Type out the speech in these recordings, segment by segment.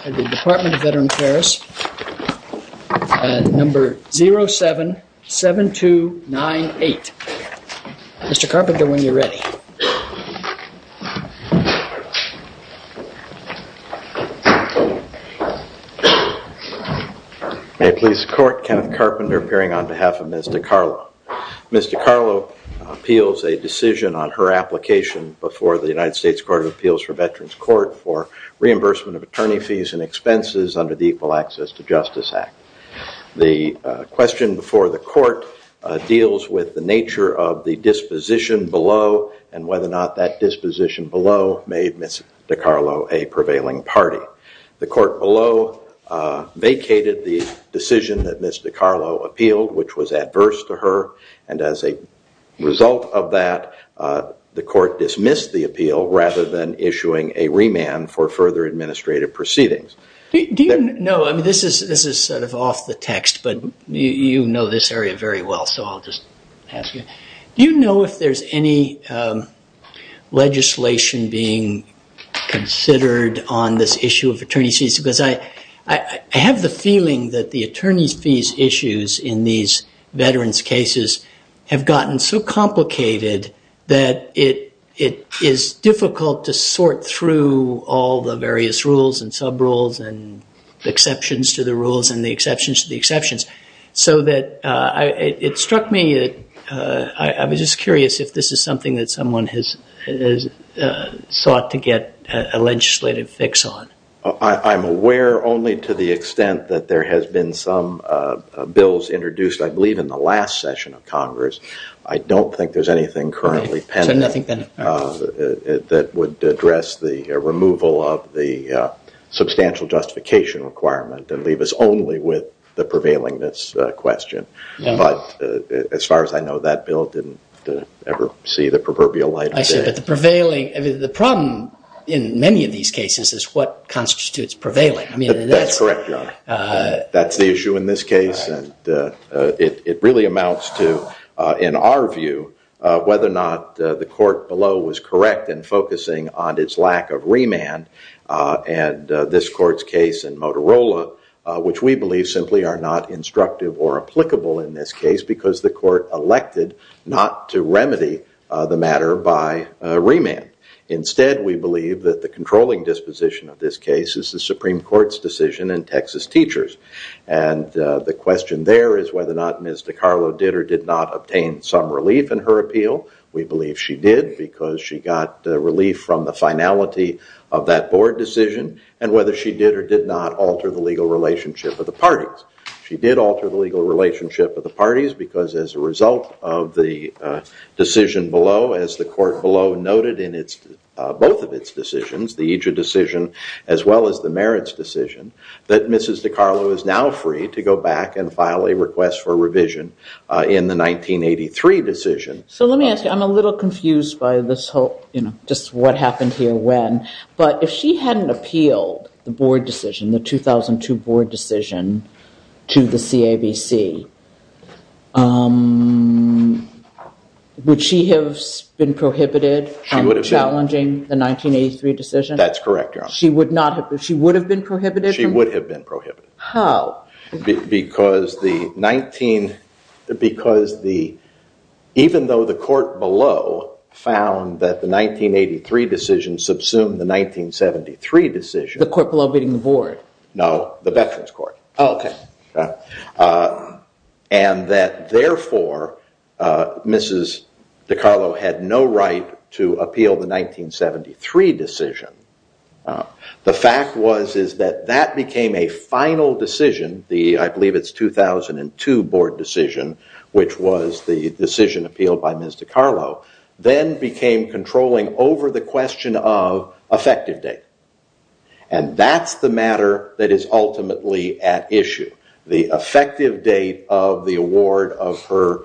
at the Department of Veteran Affairs at number 077298. Mr. Carpenter, when you're ready. May it please the court, Kenneth Carpenter appearing on behalf of Ms. Dicarlo. Ms. Dicarlo appeals a decision on her application before the United States Court of Appeals for under the Equal Access to Justice Act. The question before the court deals with the nature of the disposition below and whether or not that disposition below made Ms. Dicarlo a prevailing party. The court below vacated the decision that Ms. Dicarlo appealed, which was adverse to her, and as a result of that, the court dismissed the appeal rather than issuing a remand for further administrative proceedings. Do you know, I mean this is sort of off the text, but you know this area very well, so I'll just ask you. Do you know if there's any legislation being considered on this issue of attorney's fees? Because I have the feeling that the attorney's fees issues in these veterans cases have gotten so complicated that it is difficult to sort through all the various rules and sub rules and exceptions to the rules and the exceptions to the exceptions. So that it struck me, I was just curious if this is something that someone has sought to get a legislative fix on. I'm aware only to the extent that there has been some bills introduced, I believe in the last session of Congress. I don't think there's anything currently pending that would address the removal of the substantial justification requirement and leave us only with the prevailing this question. But as far as I know, that bill didn't ever see the proverbial light of day. I see, but the prevailing, I mean the problem in many of these cases is what constitutes prevailing. That's correct, that's the issue in this case and it really amounts to, in our view, whether or not the court below was correct in focusing on its lack of remand and this court's case in Motorola, which we believe simply are not instructive or applicable in this case because the court elected not to remedy the matter by remand. Instead, we believe that the controlling disposition of this case is the Supreme Court's in Texas teachers. And the question there is whether or not Ms. DeCarlo did or did not obtain some relief in her appeal. We believe she did because she got relief from the finality of that board decision and whether she did or did not alter the legal relationship of the parties. She did alter the legal relationship of the parties because as a result of the decision below, as the court below noted in its both of its decisions, the EJU decision as well as the merits decision, that Mrs. DeCarlo is now free to go back and file a request for revision in the 1983 decision. So let me ask you, I'm a little confused by this whole, you know, just what happened here when, but if she hadn't appealed the board decision, the 2002 board decision to the CABC, would she have been prohibited from challenging the 1983 decision? That's correct, Your Honor. She would not have, she would have been prohibited? She would have been prohibited. How? Because the 19, because the, even though the court below found that the 1983 decision subsumed the 1973 decision. The court below beating the board? No, the veterans court. Oh, okay. And that therefore, Mrs. DeCarlo had no right to appeal the 1973 decision. The fact was is that that became a final decision, the, I believe it's 2002 board decision, which was the decision appealed by Ms. DeCarlo, then became controlling over the question of effective date. And that's the matter that is ultimately at issue. The effective date of the award of her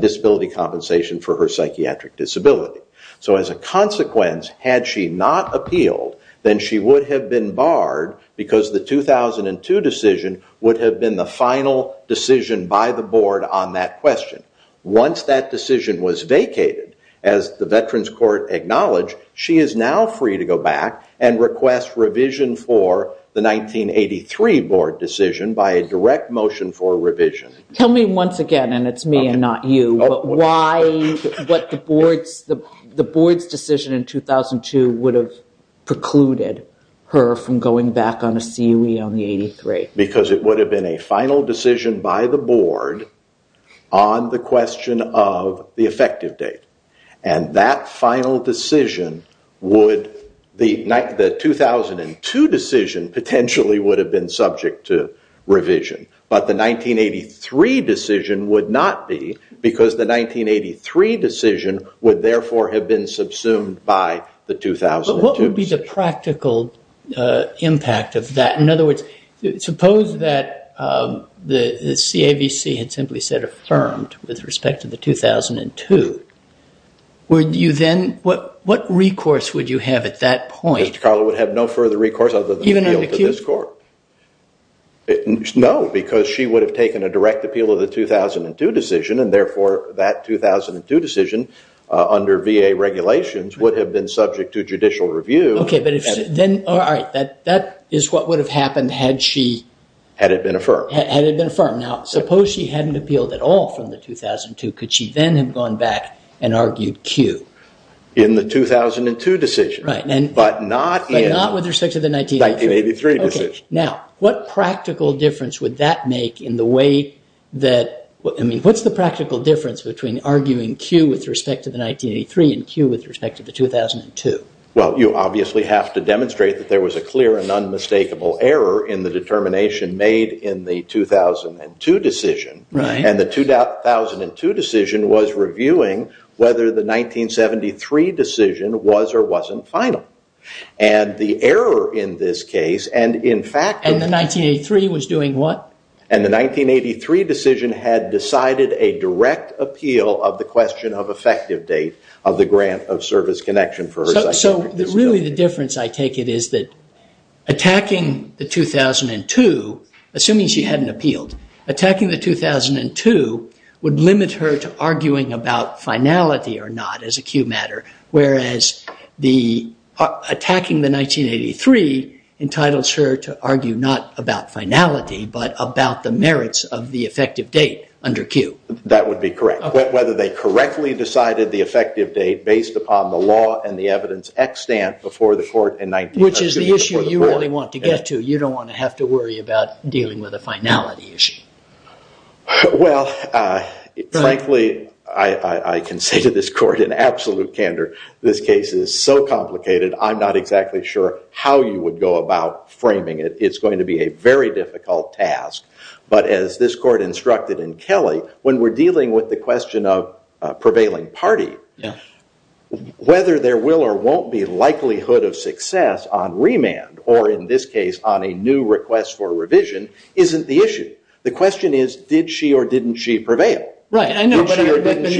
disability compensation for her psychiatric disability. So as a consequence, had she not appealed, then she would have been barred because the 2002 decision would have been the final decision by the board on that question. Once that decision was vacated, as the veterans court acknowledged, she is now free to go back and request revision for the 1983 board decision by a direct motion for revision. Tell me once again, and it's me and not you, but why, what the board's decision in 2002 would have precluded her from going back on a CUE on the 83? Because it would have been a final decision by the board on the question of the effective date. And that final decision would, the 2002 decision potentially would have been subject to revision. But the 1983 decision would not be because the 1983 decision would therefore have been subsumed by the 2002 decision. What would be the practical impact of that? In other words, suppose that the CAVC had simply said affirmed with respect to the 2002. Would you then, what recourse would you have at that point? Carla would have no further recourse other than appeal to this court. No, because she would have taken a direct appeal of the 2002 decision, and therefore that 2002 decision under VA regulations would have been subject to judicial review. OK, but if then, all right, that is what would have happened had she. Had it been affirmed. Had it been affirmed. Now, suppose she hadn't appealed at all from the 2002. Could she then have gone back and argued CUE? In the 2002 decision. Right. But not with respect to the 1983 decision. Now, what practical difference would that make in the way that, I mean, what's the practical difference between arguing CUE with respect to the 1983 and CUE with respect to the 2002? Well, you obviously have to demonstrate that there was a clear and unmistakable error in the determination made in the 2002 decision. And the 2002 decision was reviewing whether the 1973 decision was or wasn't final. And the error in this case, and in fact. And the 1983 was doing what? And the 1983 decision had decided a direct appeal of the question of effective date of grant of service connection for her. So really, the difference I take it is that attacking the 2002, assuming she hadn't appealed, attacking the 2002 would limit her to arguing about finality or not as a CUE matter. Whereas attacking the 1983 entitles her to argue not about finality, but about the merits of the effective date under CUE. That would be correct. Whether they correctly decided the effective date based upon the law and the evidence extant before the court in 1983. Which is the issue you really want to get to. You don't want to have to worry about dealing with a finality issue. Well, frankly, I can say to this court in absolute candor, this case is so complicated, I'm not exactly sure how you would go about framing it. It's going to be a very difficult task. But as this court instructed in Kelly, when we're dealing with the question of prevailing party, whether there will or won't be likelihood of success on remand, or in this case on a new request for revision, isn't the issue. The question is, did she or didn't she prevail? Right, I know, but in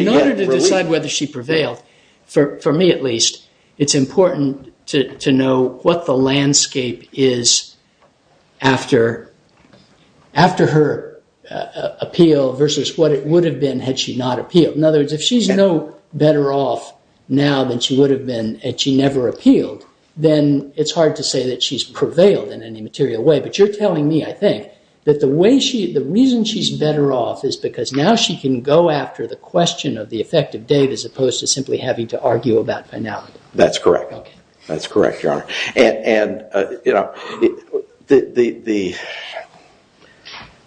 order to decide whether she prevailed, for me at least, it's important to know what the landscape is after her appeal versus what it would have been had she not appealed. In other words, if she's no better off now than she would have been had she never appealed, then it's hard to say that she's prevailed in any material way. But you're telling me, I think, that the reason she's better off is because now she can go after the question of the effective date as opposed to simply having to argue about finality. That's correct. That's correct, Your Honor. And the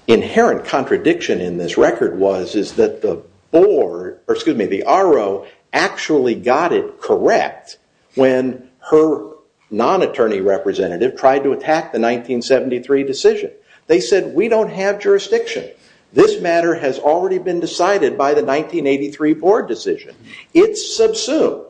inherent contradiction in this record was that the RO actually got it correct when her non-attorney representative tried to attack the 1973 decision. They said, we don't have jurisdiction. This matter has already been decided by the 1983 board decision. It's subsumed.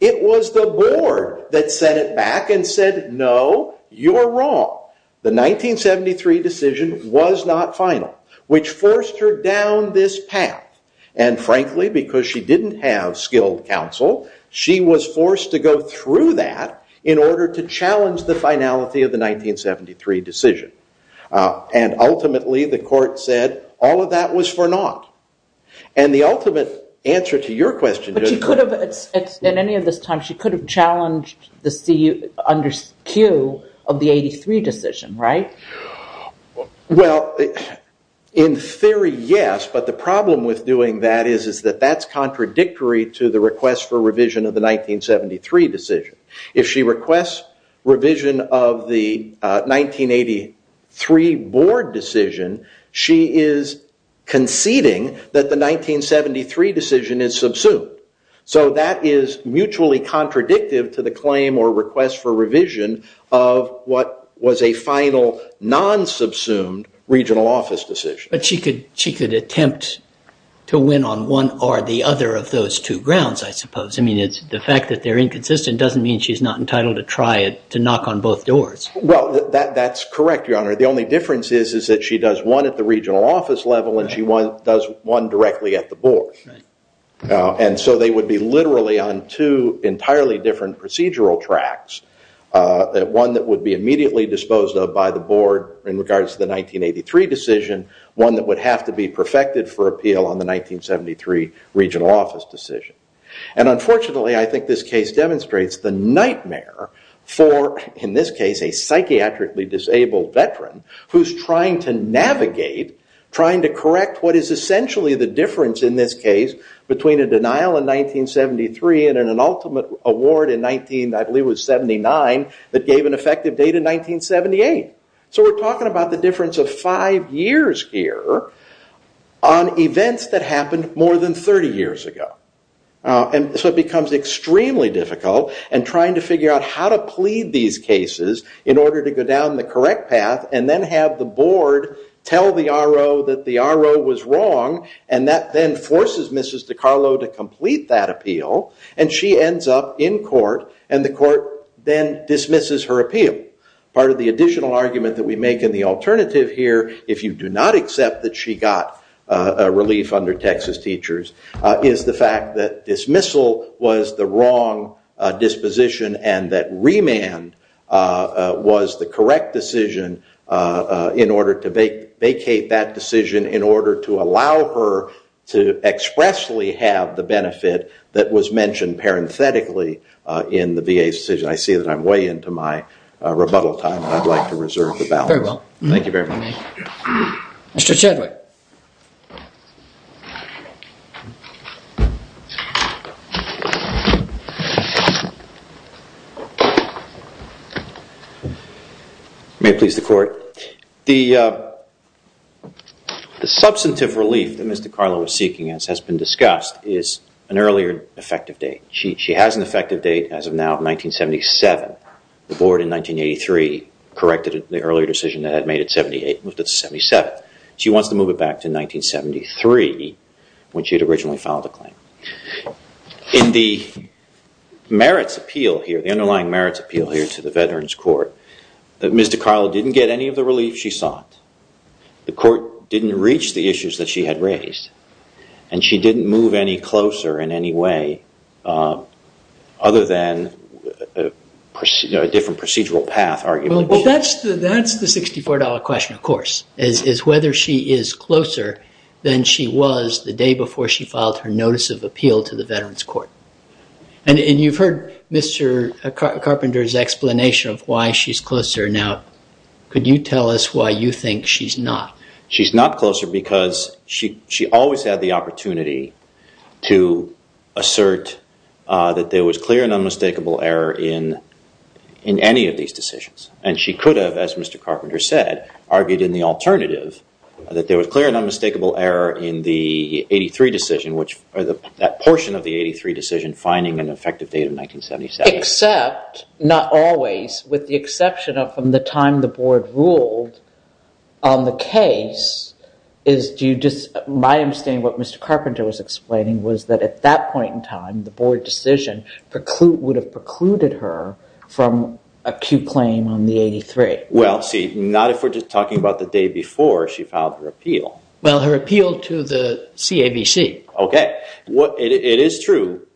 It was the board that set it back and said, no, you're wrong. The 1973 decision was not final, which forced her down this path. And frankly, because she didn't have skilled counsel, she was forced to go through that in order to challenge the finality of the 1973 decision. And ultimately, the court said, all of that was for naught. And the ultimate answer to your question is- At any of this time, she could have challenged the CQ of the 83 decision, right? Well, in theory, yes. But the problem with doing that is that that's contradictory to the request for revision of the 1973 decision. If she requests revision of the 1983 board decision, she is conceding that the 1973 decision is subsumed. So that is mutually contradictive to the claim or request for revision of what was a final, non-subsumed regional office decision. But she could attempt to win on one or the other of those two grounds, I suppose. I mean, the fact that they're inconsistent doesn't mean she's not entitled to try to knock on both doors. Well, that's correct, your honor. The only difference is that she does one at the regional office level, and she does one directly at the board. And so they would be literally on two entirely different procedural tracks, one that would be immediately disposed of by the board in regards to the 1983 decision, one that would have to be perfected for appeal on the 1973 regional office decision. And unfortunately, I think this case demonstrates the nightmare for, in this case, a psychiatrically disabled veteran who's trying to navigate, trying to correct what is essentially the difference, in this case, between a denial in 1973 and an ultimate award in 1979 that gave an effective date in 1978. So we're talking about the difference of five years here on events that happened more than 30 years ago. And so it becomes extremely difficult in trying to figure out how to plead these cases in order to go down the correct path and then have the board tell the RO that the RO was wrong, and that then forces Mrs. DeCarlo to complete that appeal. And she ends up in court, and the court then dismisses her appeal. Part of the additional argument that we make in the alternative here, if you do not accept that she got relief under Texas teachers, is the fact that dismissal was the wrong disposition and that remand was the correct decision in order to vacate that decision in order to allow her to expressly have the benefit that was mentioned parenthetically in the VA's decision. I see that I'm way into my rebuttal time, and I'd like to reserve the balance. Very well. Thank you very much. Mr. Chadwick. May it please the court. The substantive relief that Mrs. DeCarlo was seeking, as has been discussed, is an earlier effective date. She has an effective date as of now of 1977. The board in 1983 corrected the earlier decision that had made it 78, moved it to 77. She wants to move it back to 1973, when she had originally filed the claim. In the merits appeal here, the underlying merits appeal here to the Veterans Court, that Mrs. DeCarlo didn't get any of the relief she sought. The court didn't reach the issues that she had raised. And she didn't move any closer in any way other than a different procedural path, arguably. Well, that's the $64 question, of course, is whether she is closer than she was the day before she filed her notice of appeal to the Veterans Court. And you've heard Mr. Carpenter's explanation of why she's closer. Now, could you tell us why you think she's not? She's not closer because she always had the opportunity to assert that there was clear and unmistakable error in any of these decisions. And she could have, as Mr. Carpenter said, argued in the alternative, that there was finding an effective date of 1977. Except, not always, with the exception of from the time the board ruled on the case. My understanding of what Mr. Carpenter was explaining was that at that point in time, the board decision would have precluded her from a queue claim on the 83. Well, see, not if we're just talking about the day before she filed her appeal. Well, her appeal to the CAVC. It is true.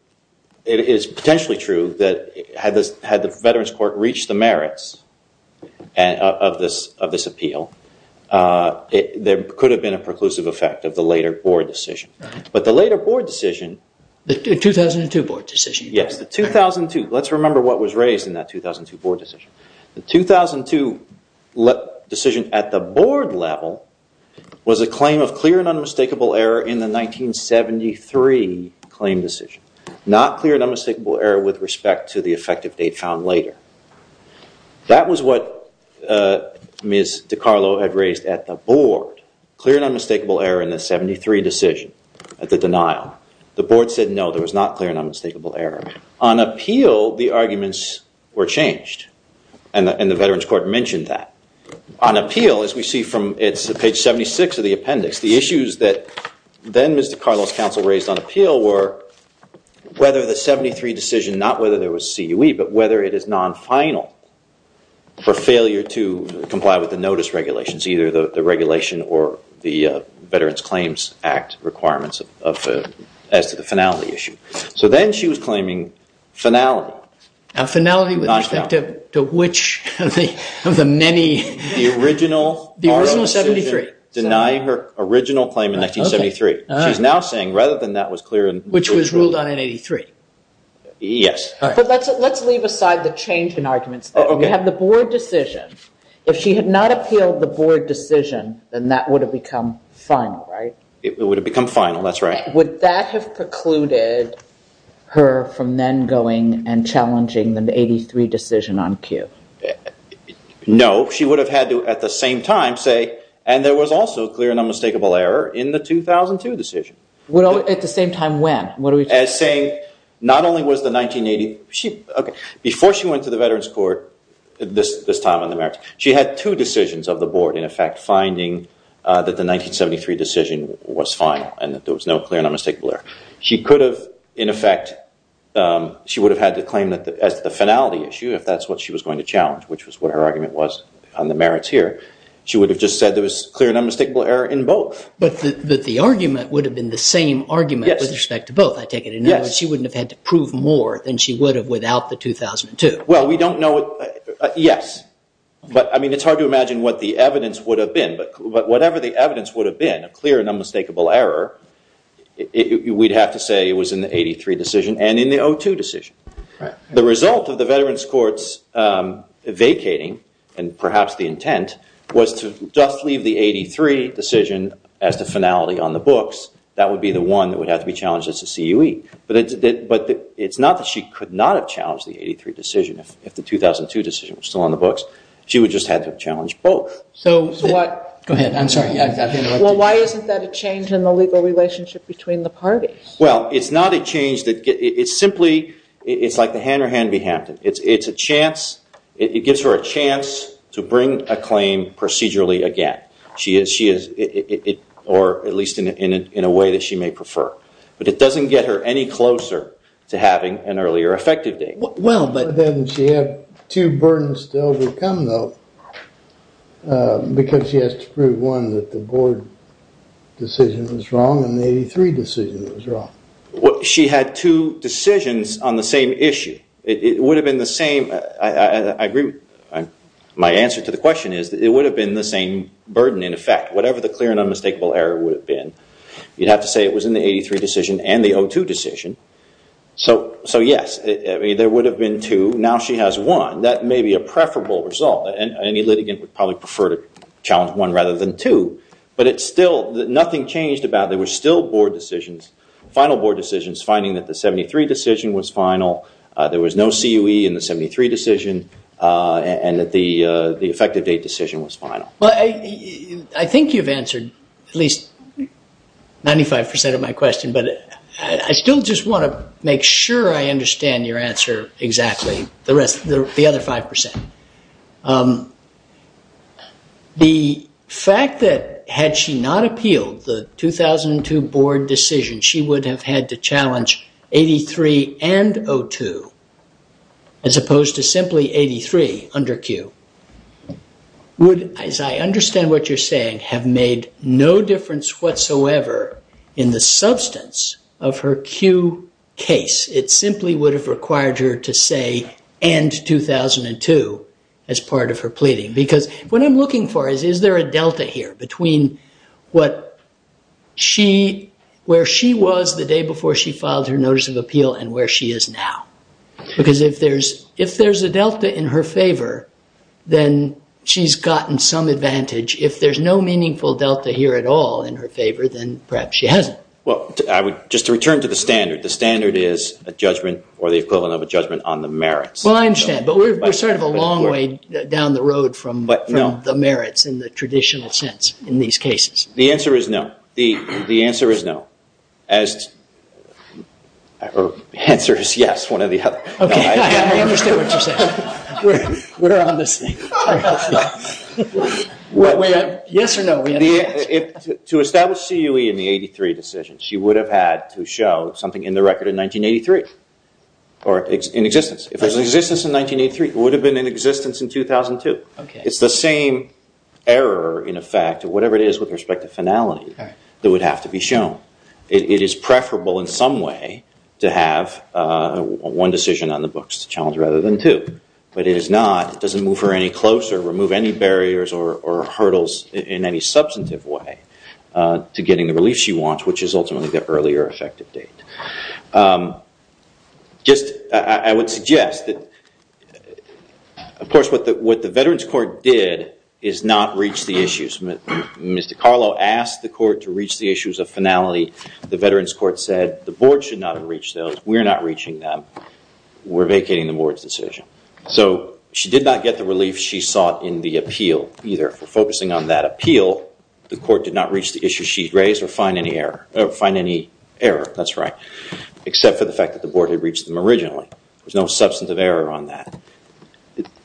It is potentially true that had the Veterans Court reached the merits of this appeal, there could have been a preclusive effect of the later board decision. But the later board decision. The 2002 board decision. Yes, the 2002. Let's remember what was raised in that 2002 board decision. The 2002 decision at the board level was a claim of clear and unmistakable error in the 1973 claim decision. Not clear and unmistakable error with respect to the effective date found later. That was what Ms. DiCarlo had raised at the board. Clear and unmistakable error in the 73 decision at the denial. The board said no, there was not clear and unmistakable error. On appeal, the arguments were changed. And the Veterans Court mentioned that. On appeal, as we see from page 76 of the appendix, the issues that then Ms. DiCarlo's counsel raised on appeal were whether the 73 decision, not whether there was CUE, but whether it is non-final for failure to comply with the notice regulations, either the regulation or the Veterans Claims Act requirements as to the finality issue. So then she was claiming finality. Now, finality with respect to which of the many? The original. The original 73. Denying her original claim in 1973. She's now saying rather than that was clear. Which was ruled on in 83. Yes. But let's leave aside the change in arguments. We have the board decision. If she had not appealed the board decision, then that would have become final, right? It would have become final, that's right. Would that have precluded her from then going and challenging the 83 decision on CUE? No, she would have had to at the same time say, and there was also clear and unmistakable error in the 2002 decision. Well, at the same time when? What are we saying? Not only was the 1980. Before she went to the Veterans Court, this time on the merits, she had two decisions of the board, in effect, finding that the 1973 decision was final and that there was no clear and unmistakable error. She could have, in effect, she would have had to claim that as the finality issue, if that's what she was going to challenge, which was what her argument was on the merits here. She would have just said there was clear and unmistakable error in both. But the argument would have been the same argument with respect to both, I take it. Yes. In other words, she wouldn't have had to prove more than she would have without the 2002. Well, we don't know it. Yes. But I mean, it's hard to imagine what the evidence would have been. But whatever the evidence would have been, a clear and unmistakable error, we'd have to say it was in the 83 decision and in the 02 decision. Right. The result of the veterans courts vacating, and perhaps the intent, was to just leave the 83 decision as the finality on the books. That would be the one that would have to be challenged as a CUE. But it's not that she could not have challenged the 83 decision if the 2002 decision was still on the books. She would just have to have challenged both. So what? Go ahead. I'm sorry. Well, why isn't that a change in the legal relationship between the parties? Well, it's not a change that gets, it's simply, it's like the hand or hand be handed. It's a chance, it gives her a chance to bring a claim procedurally again. She is, or at least in a way that she may prefer. But it doesn't get her any closer to having an earlier effective date. Well, but then she had two burdens still to come though. Because she has to prove, one, that the board decision was wrong and the 83 decision was wrong. She had two decisions on the same issue. It would have been the same, I agree, my answer to the question is that it would have been the same burden in effect. Whatever the clear and unmistakable error would have been. You'd have to say it was in the 83 decision and the 02 decision. So yes, there would have been two. Now she has one. That may be a preferable result. Any litigant would probably prefer to challenge one rather than two. But it's still, nothing changed about it. Final board decisions, finding that the 73 decision was final. There was no CUE in the 73 decision and that the effective date decision was final. But I think you've answered at least 95% of my question. But I still just want to make sure I understand your answer exactly. The rest, the other 5%. The fact that had she not appealed the 2002 board decision, she would have had to challenge 83 and 02 as opposed to simply 83 under CUE. Would, as I understand what you're saying, have made no difference whatsoever in the substance of her CUE case. It simply would have required her to say end 2002 as part of her pleading. Because what I'm looking for is, is there a delta here between where she was the day before she filed her notice of appeal and where she is now? Because if there's a delta in her favor, then she's gotten some advantage. If there's no meaningful delta here at all in her favor, then perhaps she hasn't. Well, just to return to the standard, the standard is a judgment or the equivalent of a judgment on the merits. Well, I understand. But we're sort of a long way down the road from the merits in the traditional sense in these cases. The answer is no. The answer is no. The answer is yes, one or the other. OK, I understand what you're saying. We're on this thing. Yes or no? To establish CUE in the 83 decision, she would have had to show something in the record in 1983 or in existence. If it was in existence in 1983, it would have been in existence in 2002. It's the same error, in effect, or whatever it is with respect to finality that would have to be shown. It is preferable in some way to have one decision on the books to challenge rather than two. But it is not. It doesn't move her any closer, remove any barriers or hurdles in any substantive way to getting the relief she wants, which is ultimately the earlier effective date. I would suggest that, of course, what the Veterans Court did is not reach the issues. Mr. Carlo asked the court to reach the issues of finality. The Veterans Court said the board should not have reached those. We're not reaching them. We're vacating the board's decision. So she did not get the relief she sought in the appeal either. For focusing on that appeal, the court did not reach the issue she raised or find any error, or find any error, that's right, except for the fact that the board had reached them originally. There's no substantive error on that.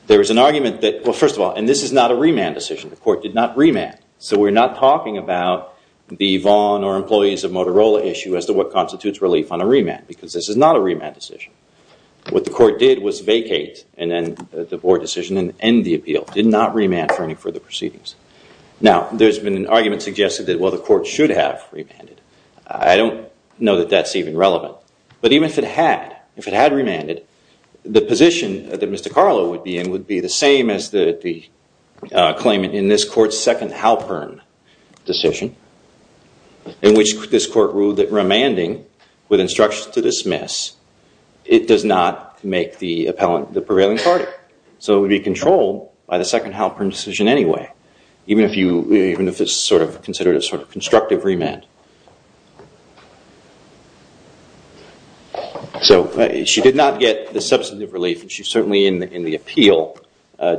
There was an argument that, well, first of all, and this is not a remand decision. The court did not remand. So we're not talking about the Vaughn or employees of Motorola issue as to what constitutes relief on a remand because this is not a remand decision. What the court did was vacate the board decision and end the appeal. Did not remand for any further proceedings. Now, there's been an argument suggested that, well, the court should have remanded. I don't know that that's even relevant. But even if it had, if it had remanded, the position that Mr. Carlo would be in would be the same as the claimant in this court's second Halpern decision, in which this court ruled that remanding with instructions to dismiss, it does not make the appellant the prevailing party. So it would be controlled by the second Halpern decision anyway, even if it's sort of considered a sort of constructive remand. So she did not get the substantive relief. She certainly in the appeal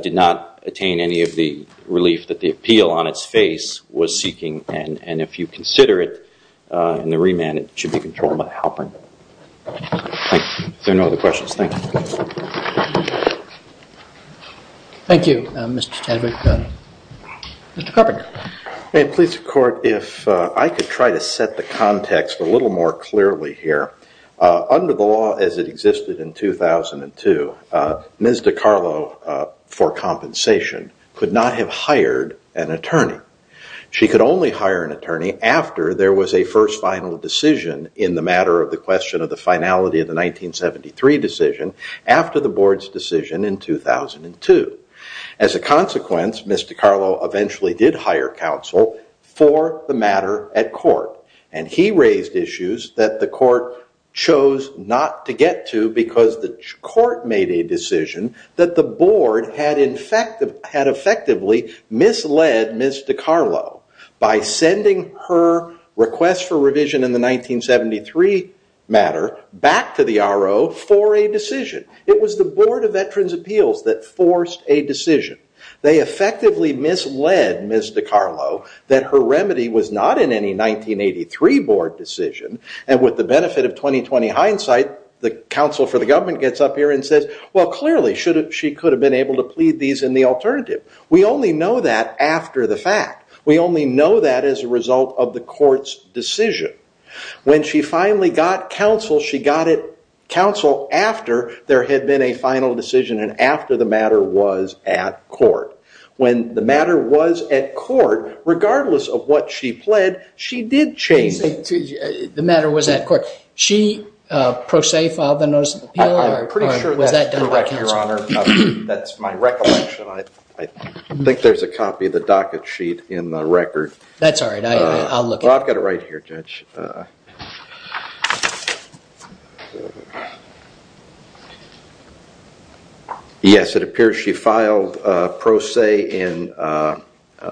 did not attain any of the relief that the appeal on its face was seeking. And if you consider it in the remand, it should be controlled by Halpern. There are no other questions. Thank you. Thank you, Mr. Chadwick. Mr. Carpenter. May it please the court, if I could try to set the context a little more clearly here. Under the law as it existed in 2002, Ms. DiCarlo, for compensation, could not have hired an attorney. She could only hire an attorney after there was a first final decision in the matter of the question of the finality of the 1973 decision after the board's decision in 2002. As a consequence, Ms. DiCarlo eventually did hire counsel for the matter at court. And he raised issues that the court chose not to get to because the court made a decision that the board had effectively misled Ms. DiCarlo by sending her request for revision in the 1973 matter back to the RO for a decision. It was the Board of Veterans' Appeals that forced a decision. They effectively misled Ms. DiCarlo that her remedy was not in any 1983 board decision. And with the benefit of 20-20 hindsight, the counsel for the government gets up here and well, clearly, she could have been able to plead these in the alternative. We only know that after the fact. We only know that as a result of the court's decision. When she finally got counsel, she got it counsel after there had been a final decision and after the matter was at court. When the matter was at court, regardless of what she pled, she did change it. The matter was at court. She pro se filed the Notice of Appeal? I'm pretty sure that's correct, Your Honor. That's my recollection. I think there's a copy of the docket sheet in the record. That's all right. I'll look at it. I've got it right here, Judge. Yes, it appears she filed pro se in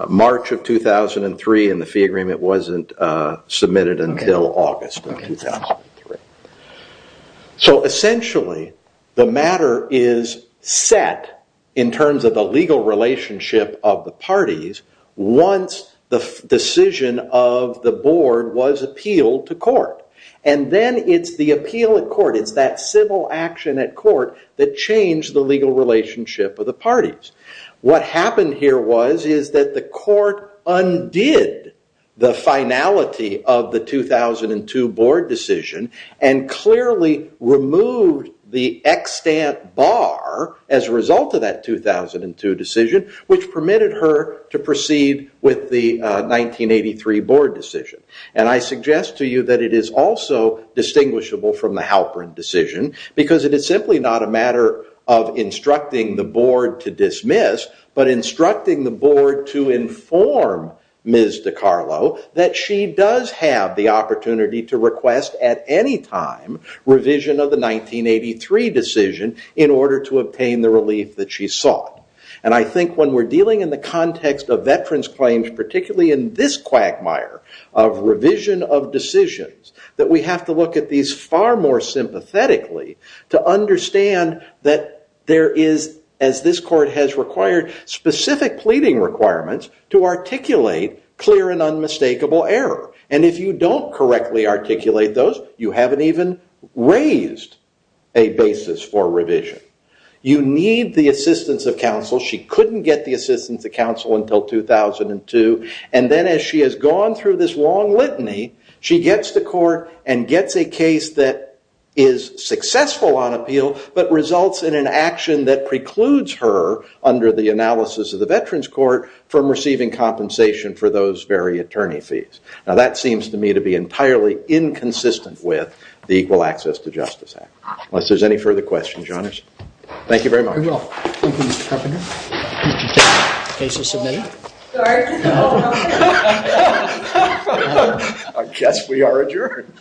March of 2003 and the fee agreement wasn't submitted until August of 2003. So essentially, the matter is set in terms of the legal relationship of the parties once the decision of the board was appealed to court. And then it's the appeal at court. It's that civil action at court that changed the legal relationship of the parties. What happened here was is that the court undid the finality of the 2002 board decision and clearly removed the extant bar as a result of that 2002 decision, which permitted her to proceed with the 1983 board decision. And I suggest to you that it is also distinguishable from the Halperin decision, because it is simply not a matter of instructing the board to dismiss, but instructing the board to inform Ms. DiCarlo that she does have the opportunity to request at any time revision of the 1983 decision in order to obtain the relief that she sought. And I think when we're dealing in the context of veterans' claims, particularly in this quagmire of revision of decisions, that we have to look at these far more sympathetically to understand that there is, as this court has required, specific pleading requirements to articulate clear and unmistakable error. And if you don't correctly articulate those, you haven't even raised a basis for revision. You need the assistance of counsel. She couldn't get the assistance of counsel until 2002. And then as she has gone through this long litany, she gets to court and gets a case that is successful on appeal, but results in an action that precludes her, under the compensation for those very attorney fees. Now, that seems to me to be entirely inconsistent with the Equal Access to Justice Act. Unless there's any further questions, Your Honors. Thank you very much. You're welcome. Thank you, Mr. Carpenter. Case is submitted. I guess we are adjourned.